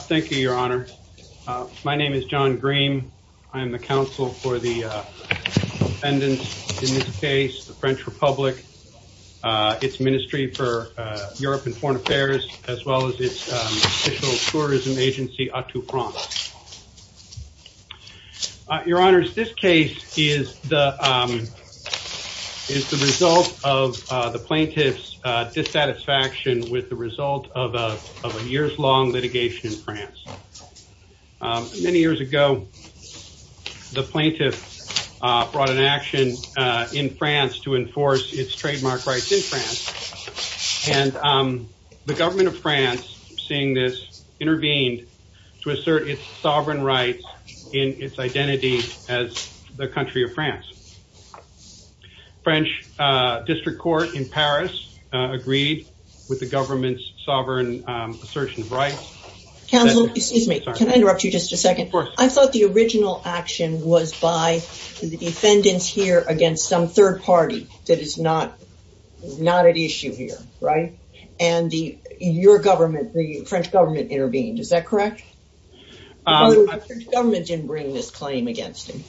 Thank you, Your Honor. My name is John Green. I am the counsel for the defendants in this case, the French Republic, its Ministry for Europe and Foreign Affairs, as well as its official tourism agency, Autopromise. Your Honors, this case is the result of the plaintiff's dissatisfaction with the result of a years-long litigation in France. Many years ago, the plaintiff brought an action in France to enforce its trademark rights in France, and the government of France, seeing this, intervened to assert its sovereign rights in its identity as the government's sovereign assertion of rights. Counsel, excuse me, can I interrupt you just a second? Of course. I thought the original action was by the defendants here against some third party that is not at issue here, right? And your government, the French government, intervened. Is that correct? The French government didn't bring this claim against him.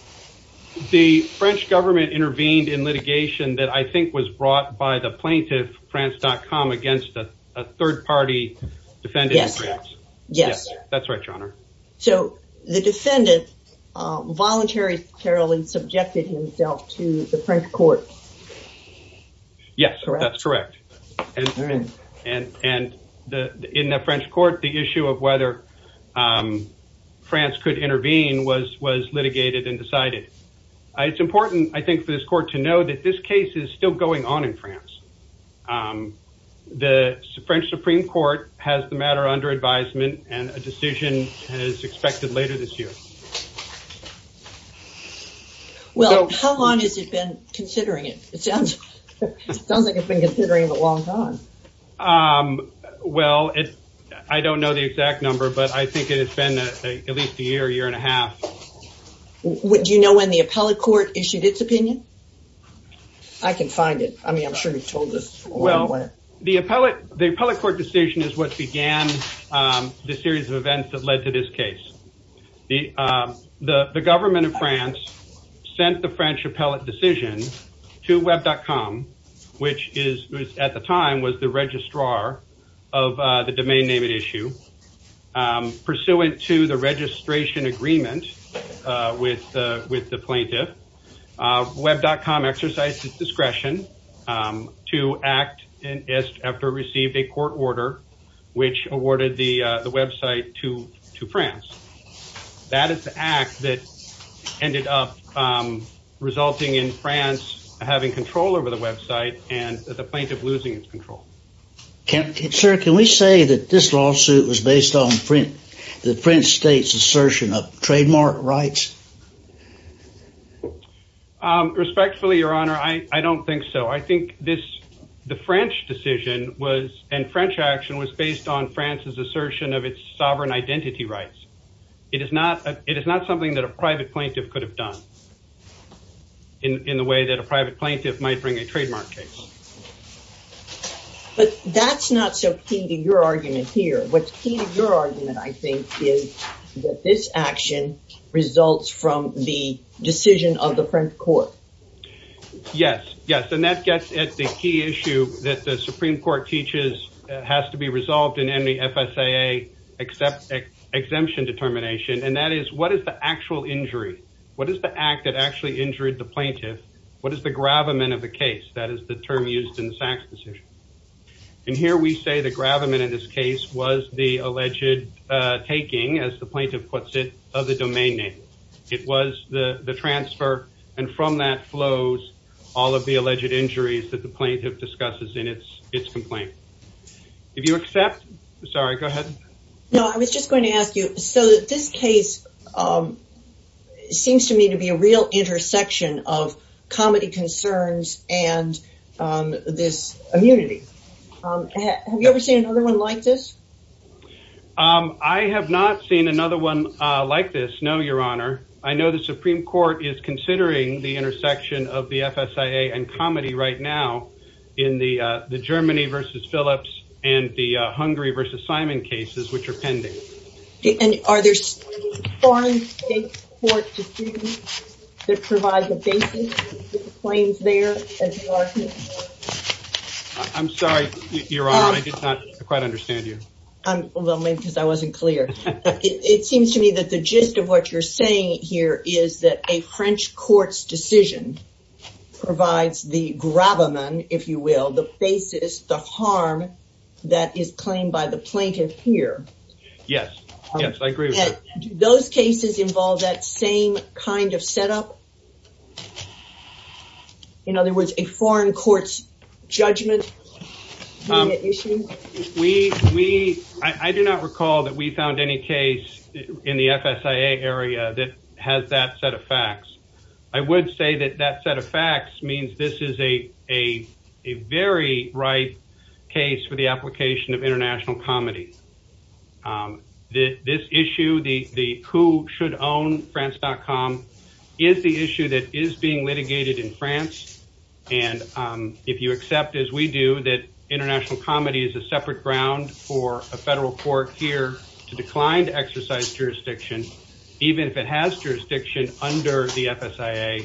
The French government intervened in litigation that I think was brought by the plaintiff, France.com, against a third party defendant. Yes, that's right, Your Honor. So the defendant voluntarily subjected himself to the French court. Yes, that's correct. And in the French court, the issue of whether France could enforce its sovereign rights in France was brought to this court to know that this case is still going on in France. The French Supreme Court has the matter under advisement, and a decision is expected later this year. Well, how long has it been considering it? It sounds like it's been considering it a long time. Well, I don't know the exact number, but I think it has been at least a year, year and a half. Do you know when the appellate court issued its opinion? I can find it. I mean, I'm sure you've told us. Well, the appellate court decision is what began the series of events that led to this case. The government of France sent the French appellate decision to Web.com, which at the time was the registrar of the domain name at issue, pursuant to the registration agreement with the plaintiff. Web.com exercised its discretion to act after it received a court order, which awarded the website to France. That is the act that ended up resulting in France having control over the website and the plaintiff losing its control. Sir, can we say that this lawsuit was based on the French state's assertion of trademark rights? Respectfully, Your Honor, I don't think so. I think this the French decision was and French action was based on France's assertion of its sovereign identity rights. It is not it is not something that a private plaintiff could have done in the way that a private plaintiff might bring a trademark case. But that's not so key to your argument here. What's key to your argument, I think, is that this action results from the decision of the French court. Yes, yes. And that gets at the key issue that the Supreme Court teaches has to be resolved in any FSAA exemption determination. And that is what is the actual injury? What is the act that actually injured the plaintiff? What is the gravamen of the case? That is the term used in the Sachs decision. And here we say the gravamen in this case was the alleged taking, as the plaintiff puts it, of the domain name. It was the transfer. And from that flows all of the alleged injuries that the plaintiff discusses in its complaint. If you accept. Sorry, go ahead. No, I was just going to ask you. So this case seems to me to be a real intersection of comedy concerns and this immunity. Have you ever seen another one like this? I have not seen another one like this. No, Your Honor. I know the Supreme Court is considering the intersection of the FSAA and comedy right now in the Germany versus Phillips and the Hungary versus Simon cases, which are pending. Are there foreign state court decisions that provide the basis for the claims there? I'm sorry, Your Honor, I did not quite understand you. Well, maybe because I wasn't clear. It seems to me that the gist of what you're saying here is that a French court's decision provides the gravamen, if you will, the basis, the harm that is claimed by the plaintiff here. Yes. Yes, I agree. Those cases involve that same kind of setup. In other words, a foreign court's judgment. We, we, I do not recall that we found any case in the FSAA area that has that set of facts. I would say that that set of facts means this is a very ripe case for the application of international comedy. This issue, the who should own France.com, is the issue that is being litigated in France, and if you accept, as we do, that international comedy is a separate ground for a federal court here to decline to exercise jurisdiction, even if it has jurisdiction under the FSAA,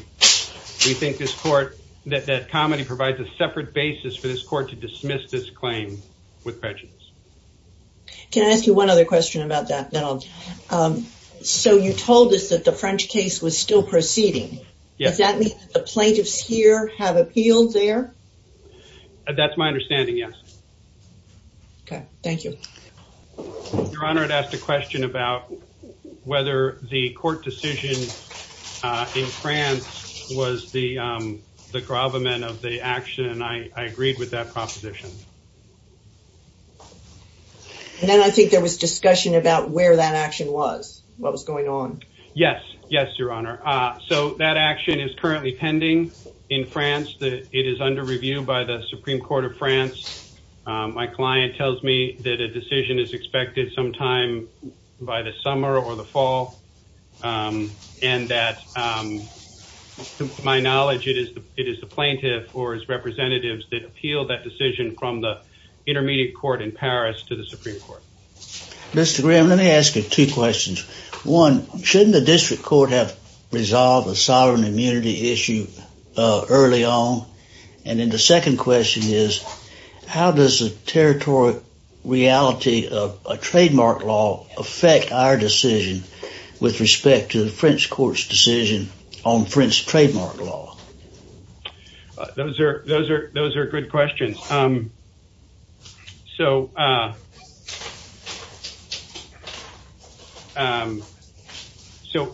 we think this court, that comedy provides a separate basis for this court to dismiss this claim with prejudice. Can I ask you one other question about that, then I'll, so you told us that the French case was still proceeding, does that mean that the plaintiffs here have appealed there? That's my understanding, yes. Okay, thank you. Your Honor, I'd ask a question about whether the court decision in France was the gravamen of the action. I agreed with that proposition. And then I think there was discussion about where that action was, what was going on. Yes, yes, Your Honor. So that action is currently pending in France. It is under review by the Supreme Court of France. My client tells me that a decision is expected sometime by the summer or the fall, and that, to my knowledge, it is the plaintiff or his representatives that appealed that decision from the intermediate court in Paris to the Supreme Court. Mr. Graham, let me ask you two questions. One, shouldn't the district court have resolved a sovereign immunity issue early on? And then the second question is, how does the territory reality of a trademark law affect our decision with respect to the French court's decision on French trademark law? Those are good questions. So,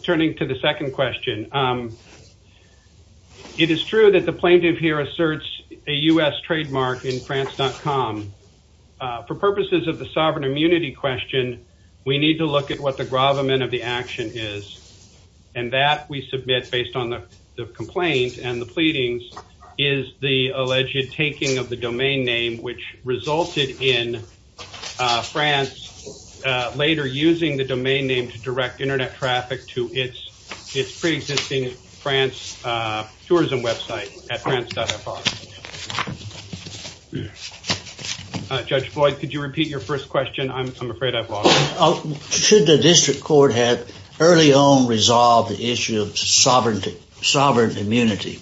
turning to the second question, it is true that the plaintiff here asserts a U.S. trademark in France.com. For purposes of the sovereign immunity question, we need to look at what the gravamen of the action is, and that we submit based on the complaint and the pleadings, is the alleged taking of the domain of the French court's decision on French trademark law. And that is the domain name which resulted in France later using the domain name to direct Internet traffic to its pre-existing France tourism website at France.fr. Judge Boyd, could you repeat your first question? I'm afraid I've lost it. Should the district court have early on resolved the issue of sovereign immunity?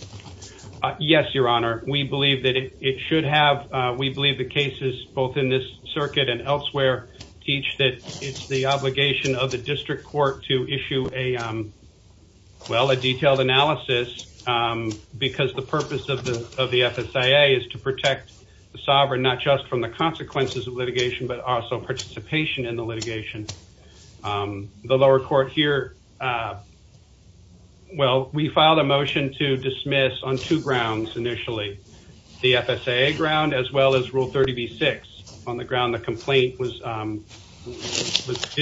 Yes, Your Honor. We believe that it should have. We believe the cases, both in this circuit and elsewhere, teach that it's the obligation of the district court to issue a, well, a detailed analysis because the purpose of the FSIA is to protect the sovereign, not just from the consequences of litigation, but also participation in the litigation. The lower court here, well, we filed a motion to dismiss on two grounds initially, the FSIA ground as well as Rule 30b-6 on the ground the complaint did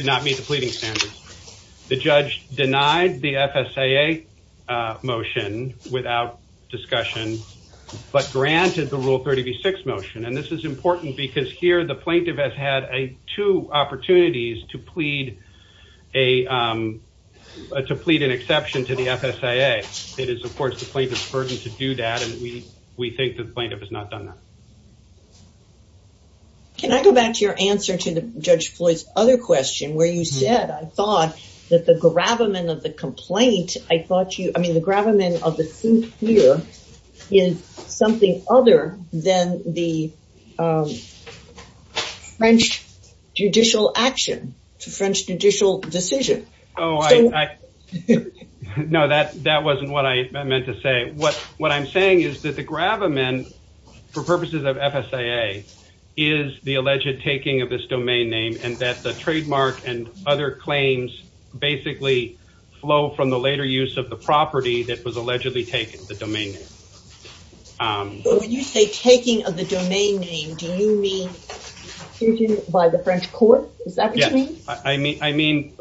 not meet the pleading standards. The judge denied the FSIA motion without discussion, but granted the Rule 30b-6 motion, and this is important because here the plaintiff has had two opportunities to plead an exception to the FSIA. It is, of course, the plaintiff's burden to do that, and we think the plaintiff has not done that. Can I go back to your answer to Judge Floyd's other question where you said, I thought that the gravamen of the complaint, I thought you, I mean, the gravamen of the suit here is something other than the French judicial action, the French judicial decision. No, that wasn't what I meant to say. What I'm saying is that the gravamen, for purposes of FSIA, is the alleged taking of this domain name and that the trademark and other claims basically flow from the later use of the property that was allegedly taken, the domain name. When you say taking of the domain name, do you mean by the French court? Is that what you mean?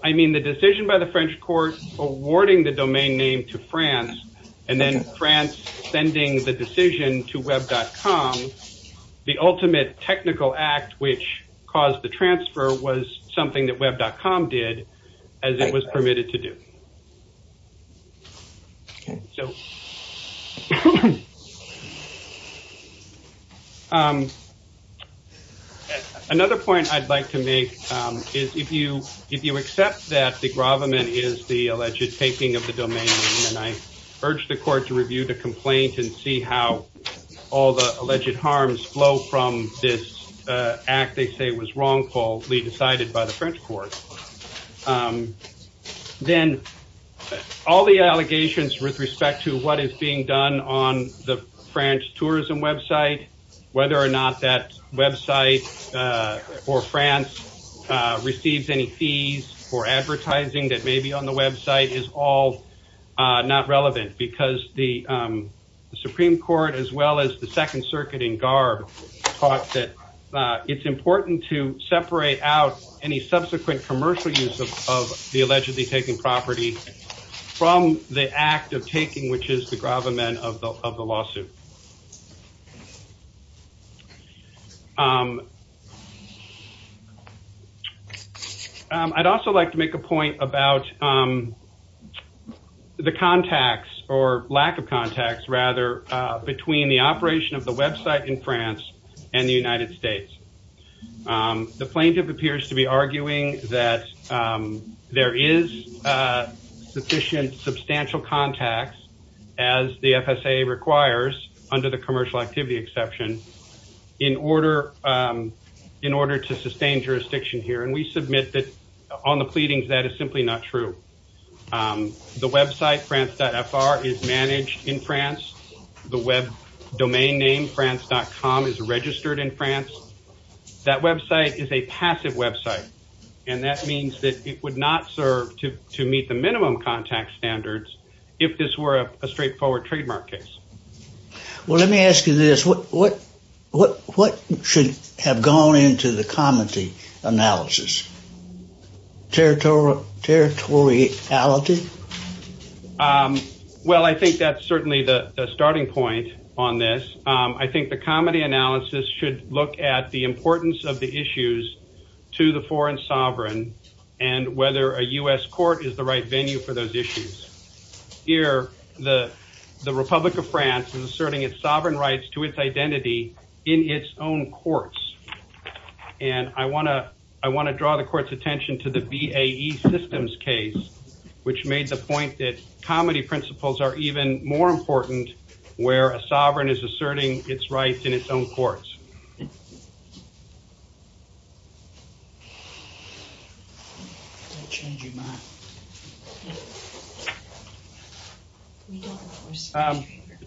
I mean the decision by the French court awarding the domain name to France and then France sending the decision to Web.com, the ultimate technical act which caused the transfer was something that Web.com did as it was permitted to do. Another point I'd like to make is if you accept that the gravamen is the alleged taking of the domain name and I urge the court to review the complaint and see how all the alleged harms flow from this act they say was wrongfully decided by the French court, then all the allegations with respect to what is being done on the French tourism website, whether or not that website or France receives any fees for advertising that may be on the website is all not relevant because the Supreme Court as well as the Second Circuit in Garb thought that it's important to separate out any subsequent commercial use of the allegedly taken property from the act of taking which is the gravamen of the lawsuit. I'd also like to make a point about the contacts or lack of contacts rather between the operation of the website in France and the United States. The plaintiff appears to be arguing that there is sufficient substantial contacts as the FSA requires under the commercial activity exception in order to sustain jurisdiction here and we submit that on the pleadings that is simply not true. The website France.fr is managed in France. The web domain name France.com is registered in France. That website is a passive website and that means that it would not serve to meet the minimum contact standards if this were a straightforward trademark case. Well, let me ask you this. What should have gone into the comedy analysis? Territoriality? Well, I think that's certainly the starting point on this. I think the comedy analysis should look at the importance of the issues to the foreign sovereign and whether a U.S. court is the right venue for those issues. Here, the Republic of France is asserting its sovereign rights to its identity in its own courts and I want to draw the court's attention to the BAE systems case which made the point that comedy principles are even more important where a sovereign is asserting its rights in its own courts.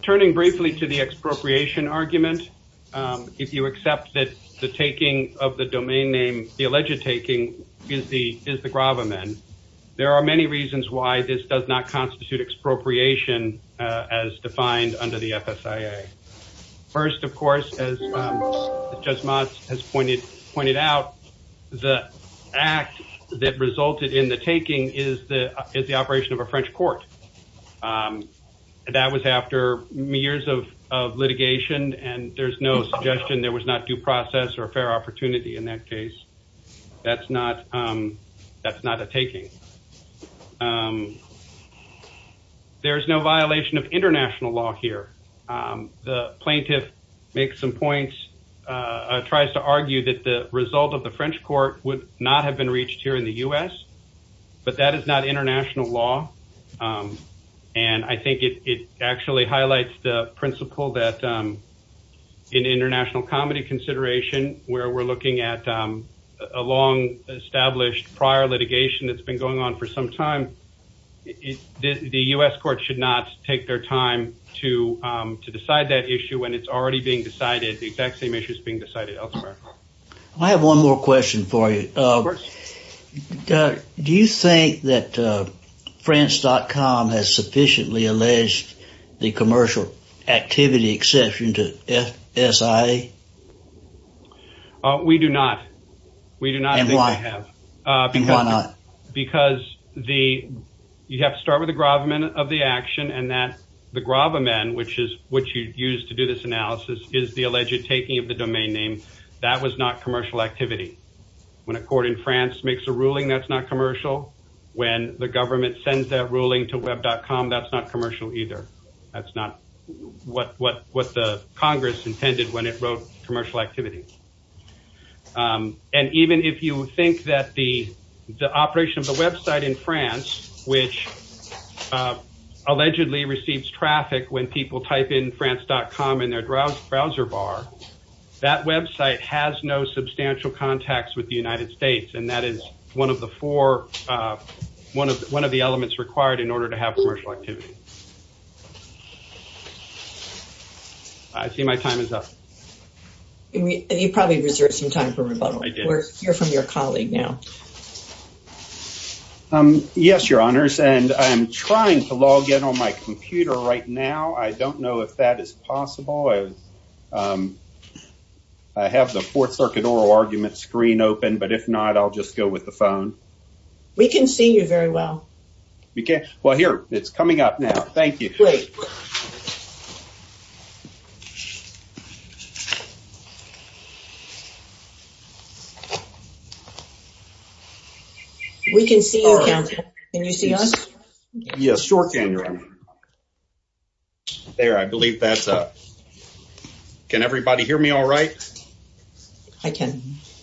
Turning briefly to the expropriation argument, if you accept that the taking of the domain name, the alleged taking is the gravamen, there are many reasons why this does not constitute expropriation as defined under the FSIA. First, of course, as Judge Motz has pointed out, the act that resulted in the taking is the operation of a French court. That was after years of litigation and there's no suggestion there was not due process or fair opportunity in that case. That's not a taking. There's no violation of international law here. The plaintiff makes some points, tries to argue that the result of the French court would not have been reached here in the U.S., but that is not international law. I think it actually highlights the principle that in international comedy consideration where we're looking at a long established prior litigation that's been going on for some time, the U.S. court should not take their time to decide that issue when it's already being decided, the exact same issue is being decided elsewhere. I have one more question for you. Do you think that French.com has sufficiently alleged the commercial activity exception to FSIA? We do not. We do not think they have. Why not? Because you have to start with the gravamen of the action and that the gravamen, which you use to do this analysis, is the alleged taking of the domain name. That was not commercial activity. When a court in France makes a ruling, that's not commercial. When the government sends that ruling to web.com, that's not commercial either. That's not what the Congress intended when it wrote commercial activity. And even if you think that the operation of the website in France, which allegedly receives traffic when people type in France.com in their browser bar, that website has no substantial contacts with the United States. And that is one of the four, one of the elements required in order to have commercial activity. I see my time is up. You probably reserved some time for rebuttal. We'll hear from your colleague now. Yes, Your Honors, and I'm trying to log in on my computer right now. I don't know if that is possible. I have the Fourth Circuit oral argument screen open, but if not, I'll just go with the phone. We can see you very well. Okay. Well, here it's coming up now. Thank you. Great. We can see you. Can you see us? Yes, sure can, Your Honor. There, I believe that's up. Can everybody hear me all right? I can.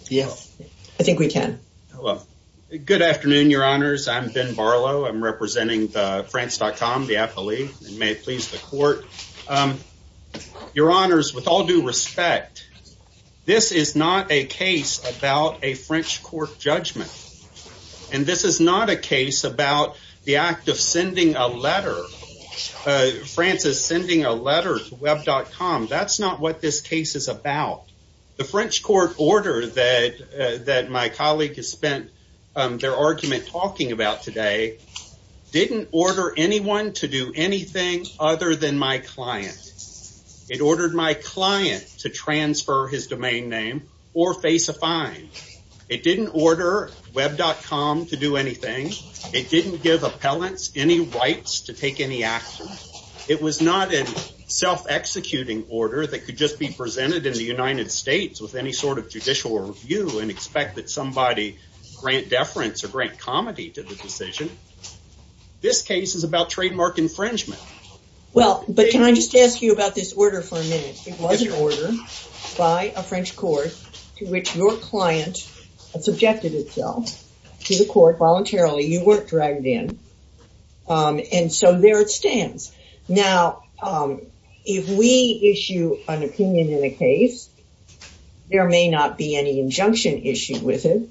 Yes. I think we can. Good afternoon, Your Honors. I'm Ben Barlow. I'm representing France.com, the affiliate. May it please the court. Your Honors, with all due respect, this is not a case about a French court judgment. And this is not a case about the act of sending a letter. France is sending a letter to Web.com. That's not what this case is about. The French court order that my colleague has spent their argument talking about today didn't order anyone to do anything other than my client. It ordered my client to transfer his domain name or face a fine. It didn't order Web.com to do anything. It didn't give appellants any rights to take any action. It was not a self-executing order that could just be presented in the United States with any sort of judicial review and expect that somebody grant deference or grant comity to the decision. This case is about trademark infringement. Well, but can I just ask you about this order for a minute? It was an order by a French court to which your client subjected itself to the court voluntarily. You weren't dragged in. And so there it stands. Now, if we issue an opinion in a case, there may not be any injunction issued with it.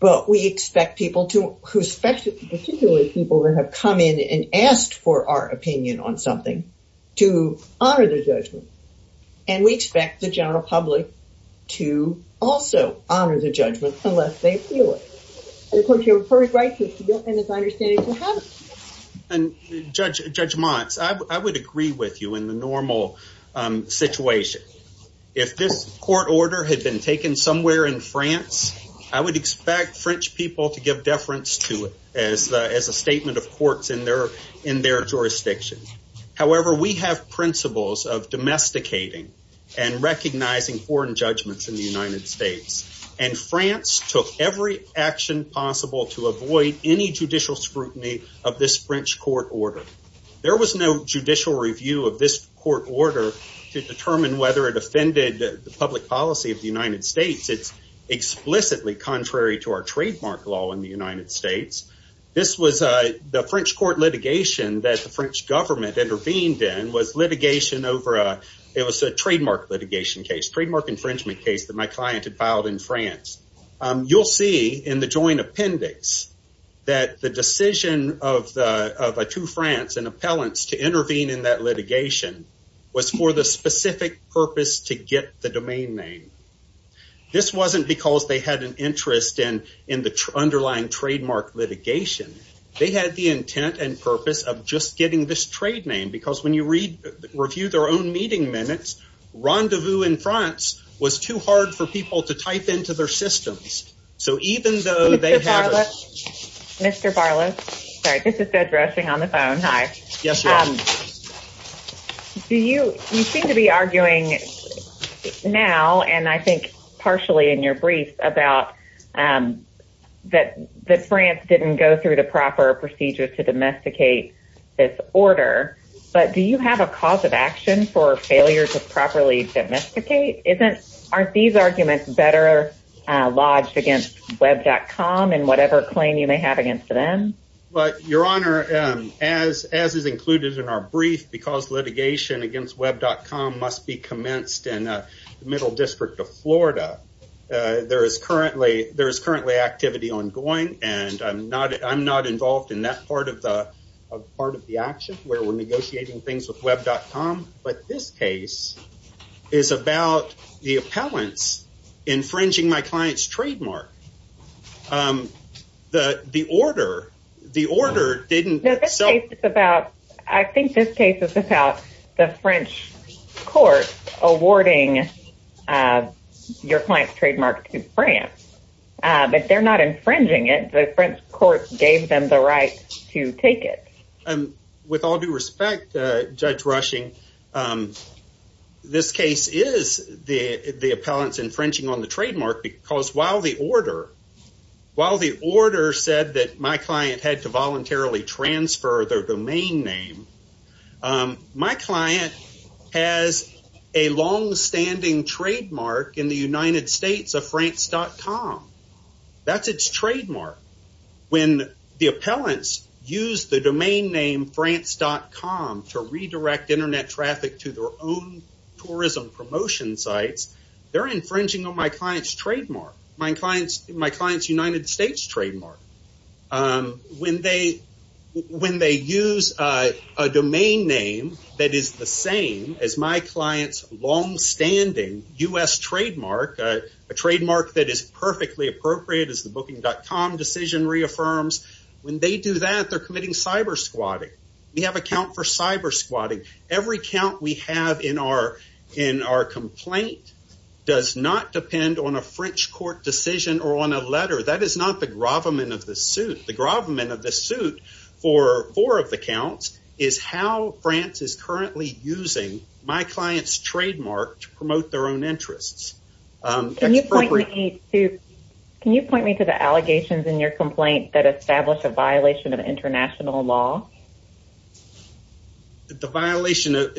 But we expect people to, particularly people that have come in and asked for our opinion on something, to honor the judgment. And we expect the general public to also honor the judgment unless they feel it. And of course, you have a perfect right to do it and it's our understanding to have it. And Judge Montz, I would agree with you in the normal situation. If this court order had been taken somewhere in France, I would expect French people to give deference to it as a statement of courts in their jurisdiction. However, we have principles of domesticating and recognizing foreign judgments in the United States. And France took every action possible to avoid any judicial scrutiny of this French court order. There was no judicial review of this court order to determine whether it offended the public policy of the United States. It's explicitly contrary to our trademark law in the United States. This was the French court litigation that the French government intervened in was litigation over a, it was a trademark litigation case, trademark infringement case that my client had filed in France. You'll see in the joint appendix that the decision of the two France and appellants to intervene in that litigation was for the specific purpose to get the domain name. This wasn't because they had an interest in the underlying trademark litigation. They had the intent and purpose of just getting this trade name because when you review their own meeting minutes, rendezvous in France was too hard for people to type into their systems. So even though they have Mr. Barlow. All right. This is dead rushing on the phone. Hi. Yes. Do you seem to be arguing now? And I think partially in your brief about that, that France didn't go through the proper procedures to domesticate this order. But do you have a cause of action for failure to properly domesticate? Aren't these arguments better lodged against web.com and whatever claim you may have against them? But your honor, as as is included in our brief, because litigation against web.com must be commenced in the middle district of Florida. There is currently there is currently activity ongoing and I'm not I'm not involved in that part of the part of the action where we're negotiating things with web.com. But this case is about the appellants infringing my client's trademark. The the order, the order didn't. So it's about I think this case is about the French court awarding your client's trademark to France. But they're not infringing it. The French court gave them the right to take it. And with all due respect, Judge Rushing, this case is the the appellants infringing on the trademark because while the order while the order said that my client had to voluntarily transfer their domain name. My client has a long standing trademark in the United States of France dot com. That's its trademark. When the appellants use the domain name France dot com to redirect Internet traffic to their own tourism promotion sites, they're infringing on my client's trademark. My client's my client's United States trademark. When they when they use a domain name that is the same as my client's long standing U.S. trademark, a trademark that is perfectly appropriate as the booking dot com decision reaffirms. When they do that, they're committing cyber squatting. We have a count for cyber squatting. Every count we have in our in our complaint does not depend on a French court decision or on a letter. That is not the gravamen of the suit. The gravamen of the suit for four of the counts is how France is currently using my client's trademark to promote their own interests. Can you point me to can you point me to the allegations in your complaint that establish a violation of international law? The violation.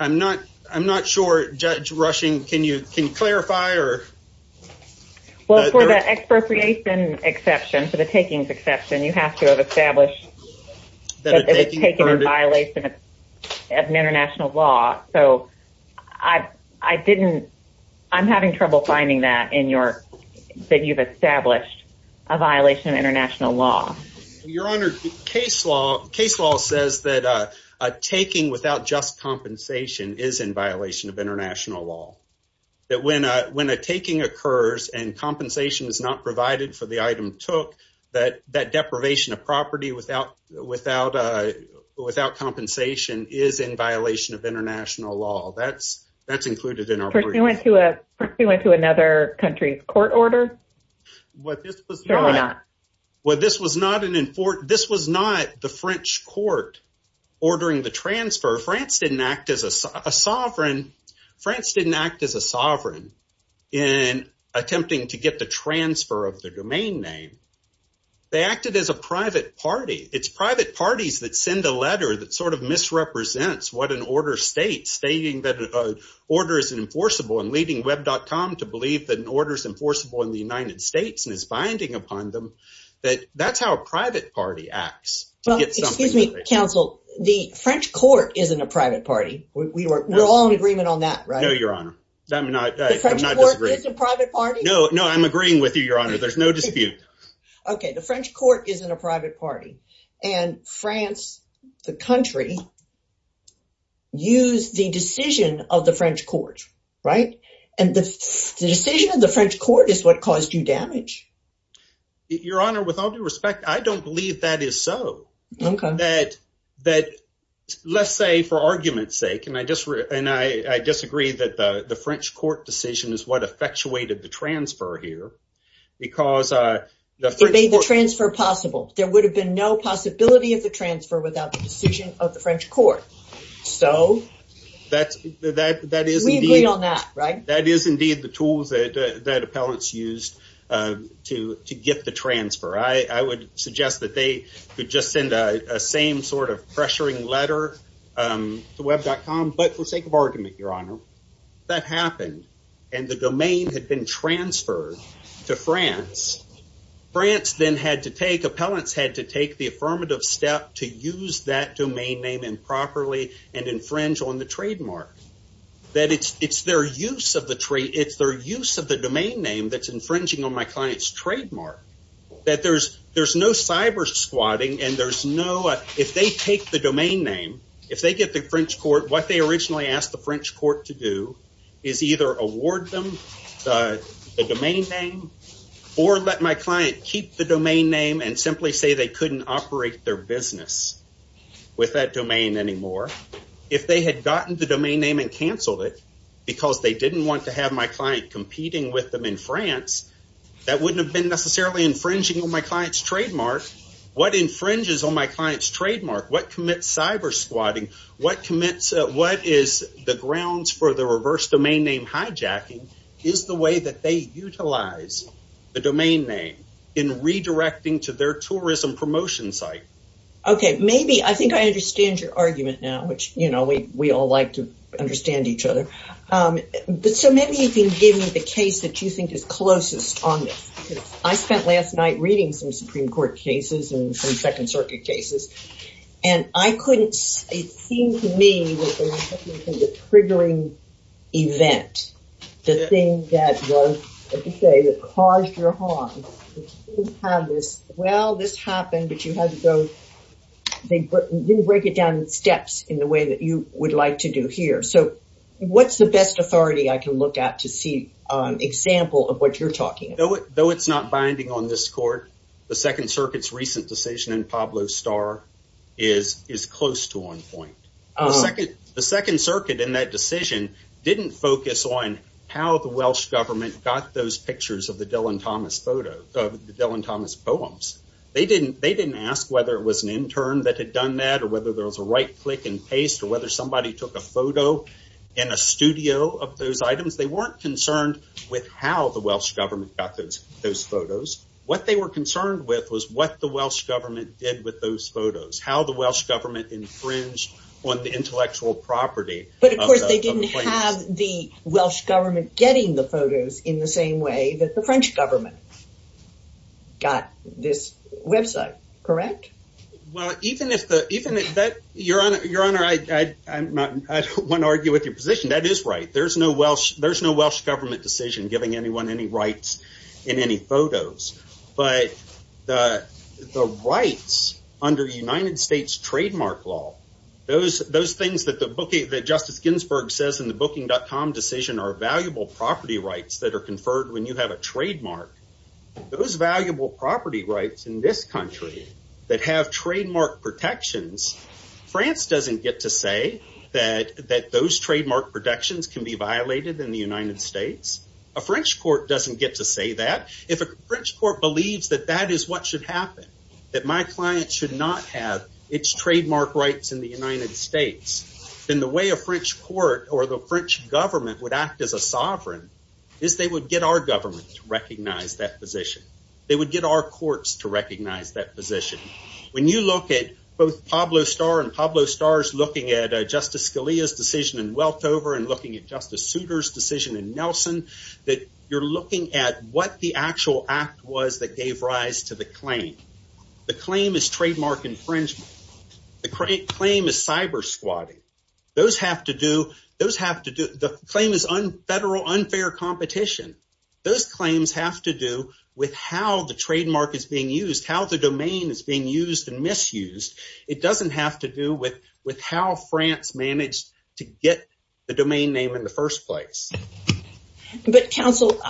I'm not I'm not sure. Judge Rushing, can you can you clarify or. Well, for the expropriation exception to the takings exception, you have to have established that it's taken in violation of international law. So I I didn't I'm having trouble finding that in your that you've established a violation of international law. Your Honor, case law case law says that a taking without just compensation is in violation of international law. That when a when a taking occurs and compensation is not provided for the item took that that deprivation of property without without without compensation is in violation of international law. That's that's included in our. We went to a we went to another country court order. What this was not what this was not an important. This was not the French court ordering the transfer. France didn't act as a sovereign. France didn't act as a sovereign in attempting to get the transfer of the domain name. They acted as a private party. It's private parties that send a letter that sort of misrepresents what an order state stating that an order is enforceable and leading Webcom to believe that an order is enforceable in the United States. And it's binding upon them that that's how a private party acts. Excuse me, counsel. The French court isn't a private party. We were all in agreement on that. Right. No, Your Honor. I'm not. I'm not a private party. No, no. I'm agreeing with you, Your Honor. There's no dispute. OK, the French court isn't a private party. And France, the country. Use the decision of the French court. And the decision of the French court is what caused you damage. Your Honor, with all due respect, I don't believe that is so that that let's say for argument's sake. And I just and I disagree that the French court decision is what effectuated the transfer here because the transfer possible. There would have been no possibility of the transfer without the decision of the French court. So that's that that is we agree on that. Right. That is indeed the tools that that appellants used to to get the transfer. I would suggest that they could just send a same sort of pressuring letter to Webcom. But for sake of argument, Your Honor, that happened. And the domain had been transferred to France. France then had to take appellants had to take the affirmative step to use that domain name improperly and infringe on the trademark. That it's it's their use of the tree. It's their use of the domain name that's infringing on my client's trademark that there's there's no cyber squatting and there's no if they take the domain name. If they get the French court, what they originally asked the French court to do is either award them the domain name or let my client keep the domain name and simply say they couldn't operate their business with that domain anymore. If they had gotten the domain name and canceled it because they didn't want to have my client competing with them in France, that wouldn't have been necessarily infringing on my client's trademark. What infringes on my client's trademark? What commits cyber squatting? What commits? What is the grounds for the reverse domain name? Hijacking is the way that they utilize the domain name in redirecting to their tourism promotion site. OK, maybe I think I understand your argument now, which, you know, we all like to understand each other. So maybe you can give me the case that you think is closest on this. I spent last night reading some Supreme Court cases and some Second Circuit cases, and I couldn't. It seemed to me triggering event. The thing that was, as you say, that caused your harm. Well, this happened, but you had to go. They didn't break it down in steps in the way that you would like to do here. So what's the best authority I can look at to see an example of what you're talking about, though? It's not binding on this court. The Second Circuit's recent decision in Pablo Starr is is close to one point. The Second Circuit in that decision didn't focus on how the Welsh government got those pictures of the Dylan Thomas photo of Dylan Thomas poems. They didn't they didn't ask whether it was an intern that had done that or whether there was a right click and paste or whether somebody took a photo in a studio of those items. They weren't concerned with how the Welsh government got those photos. What they were concerned with was what the Welsh government did with those photos, how the Welsh government infringed on the intellectual property. But of course, they didn't have the Welsh government getting the photos in the same way that the French government. Got this website, correct? Well, even if the even if that your honor, your honor, I don't want to argue with your position. That is right. There's no Welsh. There's no Welsh government decision giving anyone any rights in any photos. But the rights under United States trademark law, those those things that the book that Justice Ginsburg says in the booking.com decision are valuable property rights that are conferred when you have a trademark. Those valuable property rights in this country that have trademark protections. France doesn't get to say that that those trademark protections can be violated in the United States. A French court doesn't get to say that. If a French court believes that that is what should happen, that my client should not have its trademark rights in the United States, then the way a French court or the French government would act as a sovereign is they would get our government to recognize that position. They would get our courts to recognize that position. When you look at both Pablo Star and Pablo Stars looking at Justice Scalia's decision in Weltover and looking at Justice Souter's decision in Nelson, that you're looking at what the actual act was that gave rise to the claim. The claim is trademark infringement. The claim is cyber squatting. Those have to do. Those have to do. The claim is on federal unfair competition. Those claims have to do with how the trademark is being used, how the domain is being used and misused. It doesn't have to do with with how France managed to get the domain name in the first place. But counsel,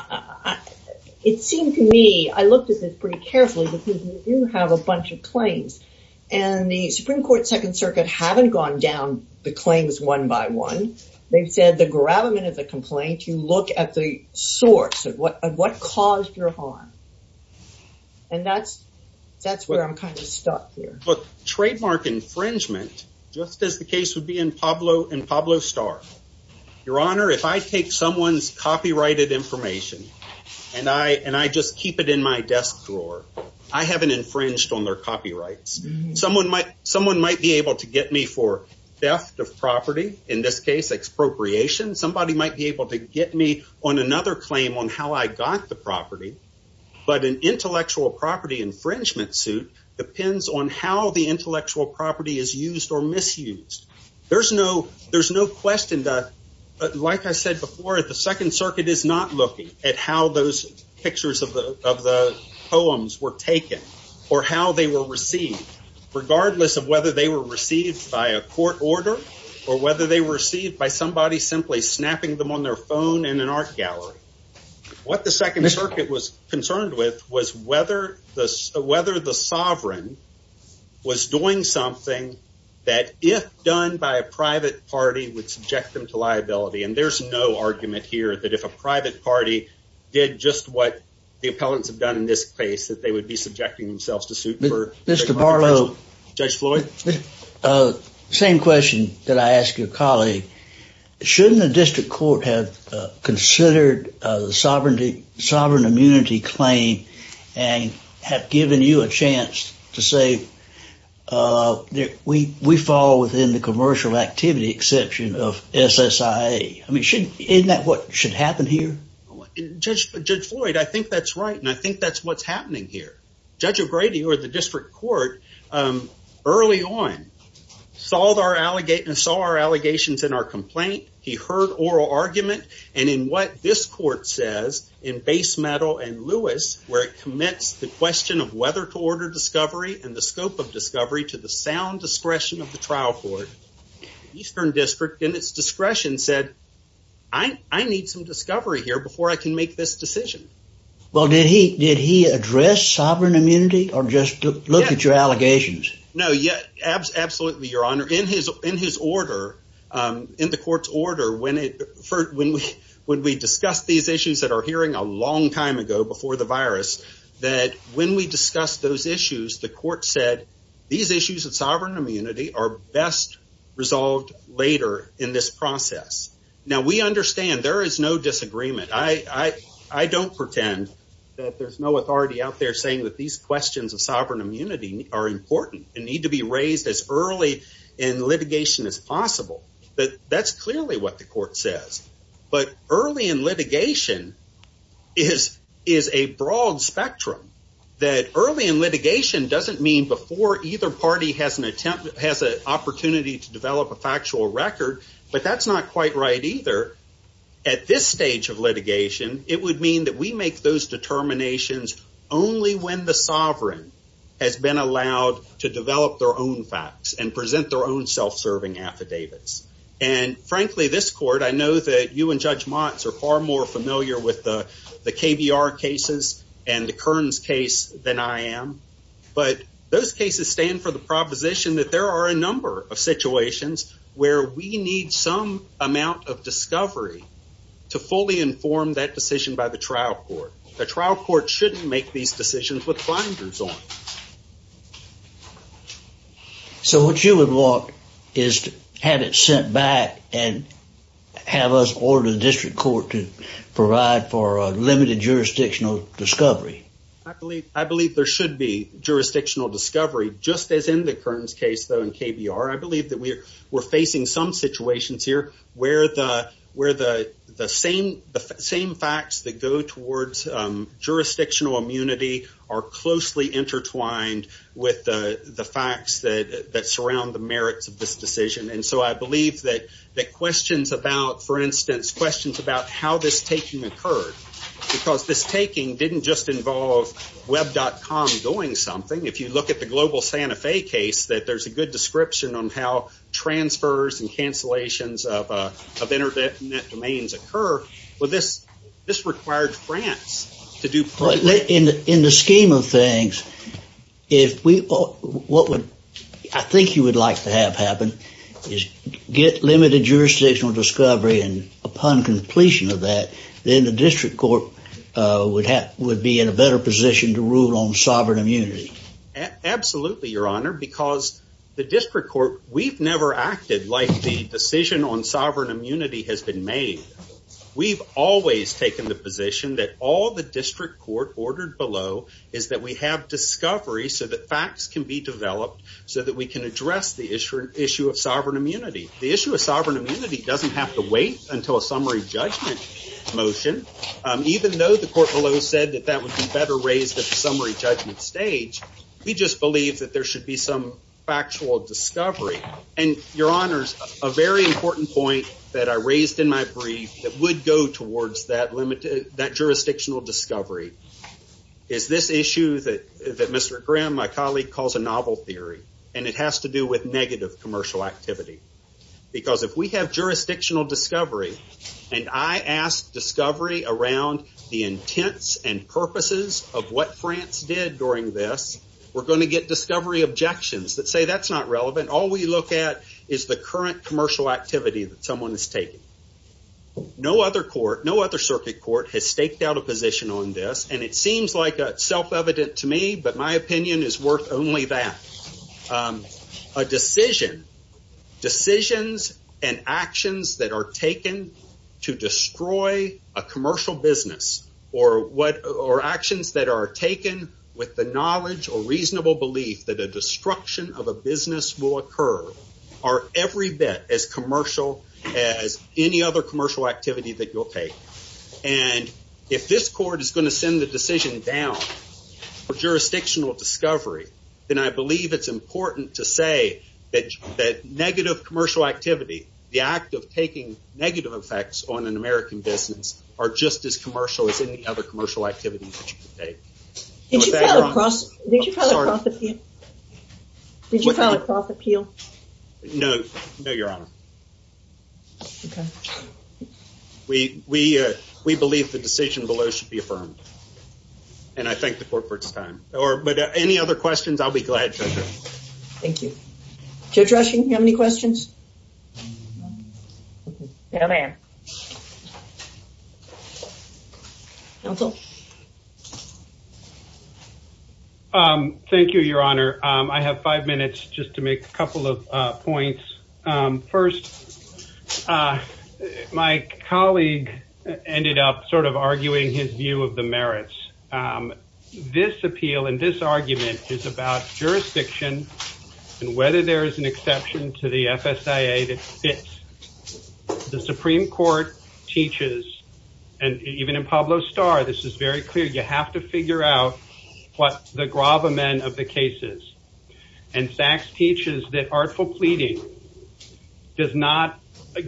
it seemed to me I looked at this pretty carefully because we do have a bunch of claims and the Supreme Court, Second Circuit haven't gone down the claims one by one. They've said the gravamen of the complaint, you look at the source of what caused your harm. And that's that's where I'm kind of stuck here. But trademark infringement, just as the case would be in Pablo and Pablo Star. Your Honor, if I take someone's copyrighted information and I and I just keep it in my desk drawer, I haven't infringed on their copyrights. Someone might someone might be able to get me for theft of property. In this case, expropriation. Somebody might be able to get me on another claim on how I got the property. But an intellectual property infringement suit depends on how the intellectual property is used or misused. There's no there's no question that, like I said before, the Second Circuit is not looking at how those pictures of the of the poems were taken or how they were received, regardless of whether they were received by a court order or whether they were received by somebody simply snapping them on their phone in an art gallery. What the Second Circuit was concerned with was whether this whether the sovereign was doing something that if done by a private party would subject them to liability. And there's no argument here that if a private party did just what the appellants have done in this case, that they would be subjecting themselves to suit for Mr. Barlow, Judge Floyd. Same question that I ask your colleague. Shouldn't the district court have considered the sovereignty sovereign immunity claim and have given you a chance to say that we we fall within the commercial activity exception of SSI? I mean, shouldn't that what should happen here? Just judge Floyd. I think that's right. And I think that's what's happening here. Judge O'Grady or the district court early on solved our allegate and saw our allegations in our complaint. He heard oral argument. And in what this court says in base metal and Lewis, where it commits the question of whether to order discovery and the scope of discovery to the sound discretion of the trial court, Eastern District in its discretion said, I need some discovery here before I can make this decision. Well, did he did he address sovereign immunity or just look at your allegations? No, yet. Absolutely. Your honor. In his in his order, in the court's order, when it when we when we discuss these issues that are hearing a long time ago before the virus, that when we discuss those issues, the court said these issues of sovereign immunity are best resolved later in this process. Now, we understand there is no disagreement. I, I, I don't pretend that there's no authority out there saying that these questions of sovereign immunity are important and need to be raised as early in litigation as possible. But that's clearly what the court says. But early in litigation is is a broad spectrum that early in litigation doesn't mean before either party has an attempt, has an opportunity to develop a factual record. But that's not quite right either. At this stage of litigation, it would mean that we make those determinations only when the sovereign has been allowed to develop their own facts and present their own self-serving affidavits. And frankly, this court, I know that you and Judge Mott are far more familiar with the KBR cases and the Kearns case than I am. But those cases stand for the proposition that there are a number of situations where we need some amount of discovery to fully inform that decision by the trial court. The trial court shouldn't make these decisions with blinders on. So what you would want is to have it sent back and have us order the district court to provide for a limited jurisdictional discovery. I believe there should be jurisdictional discovery, just as in the Kearns case, though, in KBR. I believe that we're facing some situations here where the same facts that go towards jurisdictional immunity are closely intertwined with the facts that surround the merits of this decision. And so I believe that questions about, for instance, questions about how this taking occurred, because this taking didn't just involve Web.com doing something. If you look at the global Santa Fe case, that there's a good description on how transfers and cancellations of Internet domains occur. Well, this required France to do. But in the scheme of things, if we what I think you would like to have happen is get limited jurisdictional discovery. And upon completion of that, then the district court would have would be in a better position to rule on sovereign immunity. Absolutely, Your Honor, because the district court, we've never acted like the decision on sovereign immunity has been made. We've always taken the position that all the district court ordered below is that we have discovery so that facts can be developed so that we can address the issue of sovereign immunity. The issue of sovereign immunity doesn't have to wait until a summary judgment motion. Even though the court below said that that would be better raised at the summary judgment stage. We just believe that there should be some factual discovery. And your honors, a very important point that I raised in my brief that would go towards that limited that jurisdictional discovery. Is this issue that that Mr. Graham, my colleague, calls a novel theory, and it has to do with negative commercial activity. Because if we have jurisdictional discovery, and I ask discovery around the intents and purposes of what France did during this, we're going to get discovery objections that say that's not relevant. All we look at is the current commercial activity that someone is taking. No other court, no other circuit court has staked out a position on this. And it seems like self-evident to me, but my opinion is worth only that. A decision, decisions and actions that are taken to destroy a commercial business, or actions that are taken with the knowledge or reasonable belief that a destruction of a business will occur, are every bit as commercial as any other commercial activity that you'll take. And if this court is going to send the decision down for jurisdictional discovery, then I believe it's important to say that negative commercial activity, the act of taking negative effects on an American business, are just as commercial as any other commercial activity that you can take. Did you file a cross appeal? No, your honor. Okay. We believe the decision below should be affirmed. And I thank the court for its time. But any other questions, I'll be glad to answer. Thank you. Judge Rushing, do you have any questions? No, ma'am. Counsel? Thank you, your honor. I have five minutes just to make a couple of points. First, my colleague ended up sort of arguing his view of the merits. This appeal and this argument is about jurisdiction and whether there is an exception to the FSIA that fits. The Supreme Court teaches, and even in Pablo Starr, this is very clear, you have to figure out what the gravamen of the case is. And Sachs teaches that artful pleading does not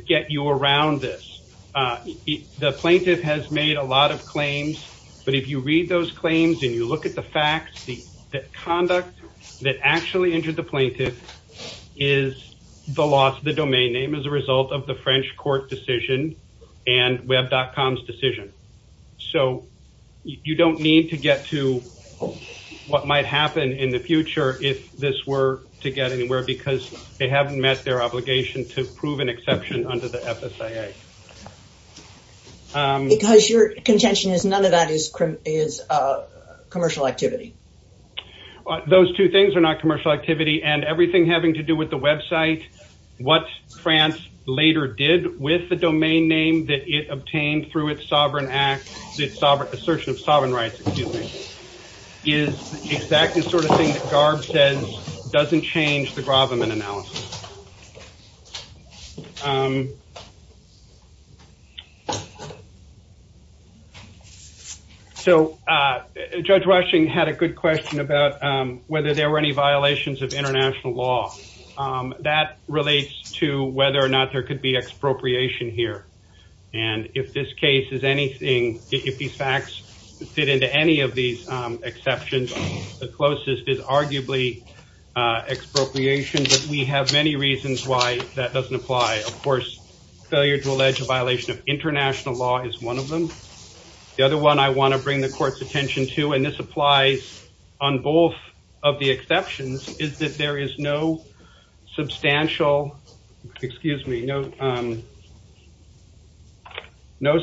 get you around this. The plaintiff has made a lot of claims. But if you read those claims and you look at the facts, the conduct that actually injured the plaintiff is the loss of the domain name as a result of the French court decision and web.com's decision. So you don't need to get to what might happen in the future if this were to get anywhere because they haven't met their obligation to prove an exception under the FSIA. Because your contention is none of that is commercial activity. Those two things are not commercial activity. And everything having to do with the website, what France later did with the domain name that it obtained through its assertion of sovereign rights is exactly the sort of thing that Garb says doesn't change the gravamen analysis. So Judge Washington had a good question about whether there were any violations of international law. That relates to whether or not there could be expropriation here. And if this case is anything, if these facts fit into any of these exceptions, the closest is arguably expropriation. But we have many reasons why that doesn't apply. Of course, failure to allege a violation of international law is one of them. The other one I want to bring the court's attention to, and this applies on both of the exceptions, is that there is no substantial, excuse me, no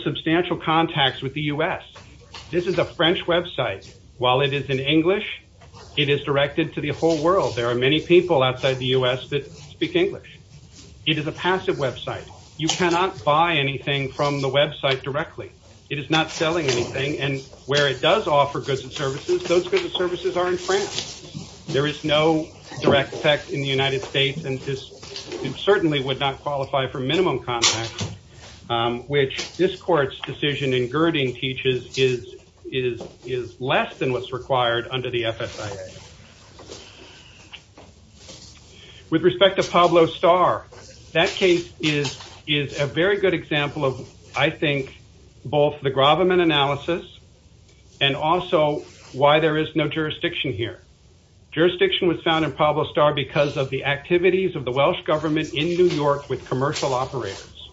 substantial contacts with the US. This is a French website. While it is in English, it is directed to the whole world. There are many people outside the US that speak English. It is a passive website. You cannot buy anything from the website directly. It is not selling anything. And where it does offer goods and services, those goods and services are in France. There is no direct effect in the United States, and it certainly would not qualify for minimum contacts, which this court's decision in Girding teaches is less than what's required under the FSIA. With respect to Pablo Starr, that case is a very good example of, I think, both the Graviman analysis and also why there is no jurisdiction here. Jurisdiction was found in Pablo Starr because of the activities of the Welsh government in New York with commercial operators.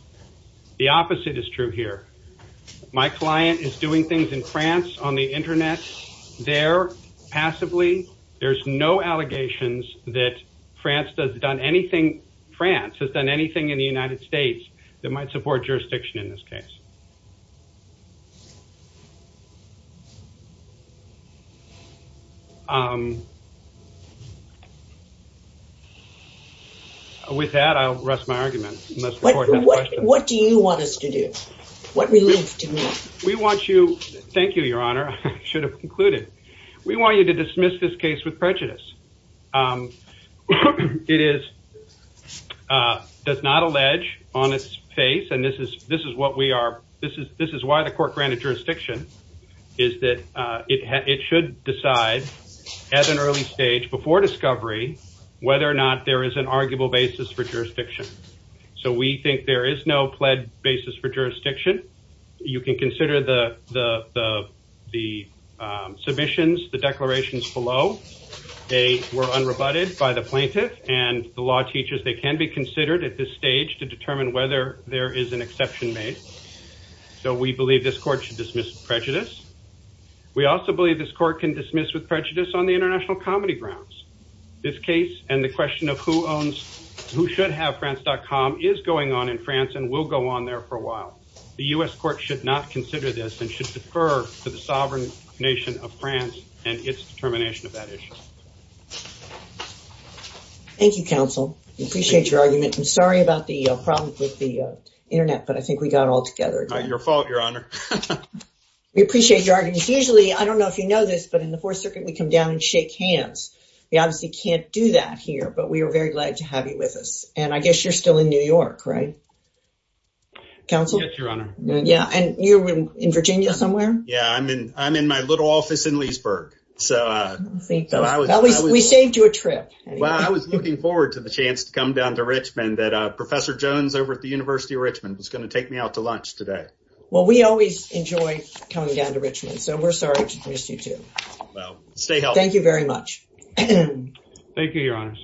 The opposite is true here. My client is doing things in France on the Internet there passively. There's no allegations that France has done anything in the United States that might support jurisdiction in this case. With that, I'll rest my argument. What do you want us to do? Thank you, Your Honor. I should have concluded. We want you to dismiss this case with prejudice. It does not allege on its face, and this is why the court granted jurisdiction, is that it should decide at an early stage before discovery whether or not there is an arguable basis for jurisdiction. We think there is no pled basis for jurisdiction. You can consider the submissions, the declarations below. They were unrebutted by the plaintiff, and the law teaches they can be considered at this stage to determine whether there is an exception made. We believe this court should dismiss with prejudice. We also believe this court can dismiss with prejudice on the international comedy grounds. This case and the question of who should have France.com is going on in France and will go on there for a while. The U.S. court should not consider this and should defer to the sovereign nation of France and its determination of that issue. Thank you, counsel. We appreciate your argument. I'm sorry about the problem with the Internet, but I think we got it all together. Not your fault, Your Honor. We appreciate your argument. Usually, I don't know if you know this, but in the Fourth Circuit, we come down and shake hands. We obviously can't do that here, but we are very glad to have you with us. And I guess you're still in New York, right? Counsel? Yes, Your Honor. And you're in Virginia somewhere? Yeah, I'm in my little office in Leesburg. Thank you. We saved you a trip. Well, I was looking forward to the chance to come down to Richmond that Professor Jones over at the University of Richmond was going to take me out to lunch today. Well, we always enjoy coming down to Richmond, so we're sorry to miss you, too. Well, stay healthy. Thank you very much. Thank you, Your Honor.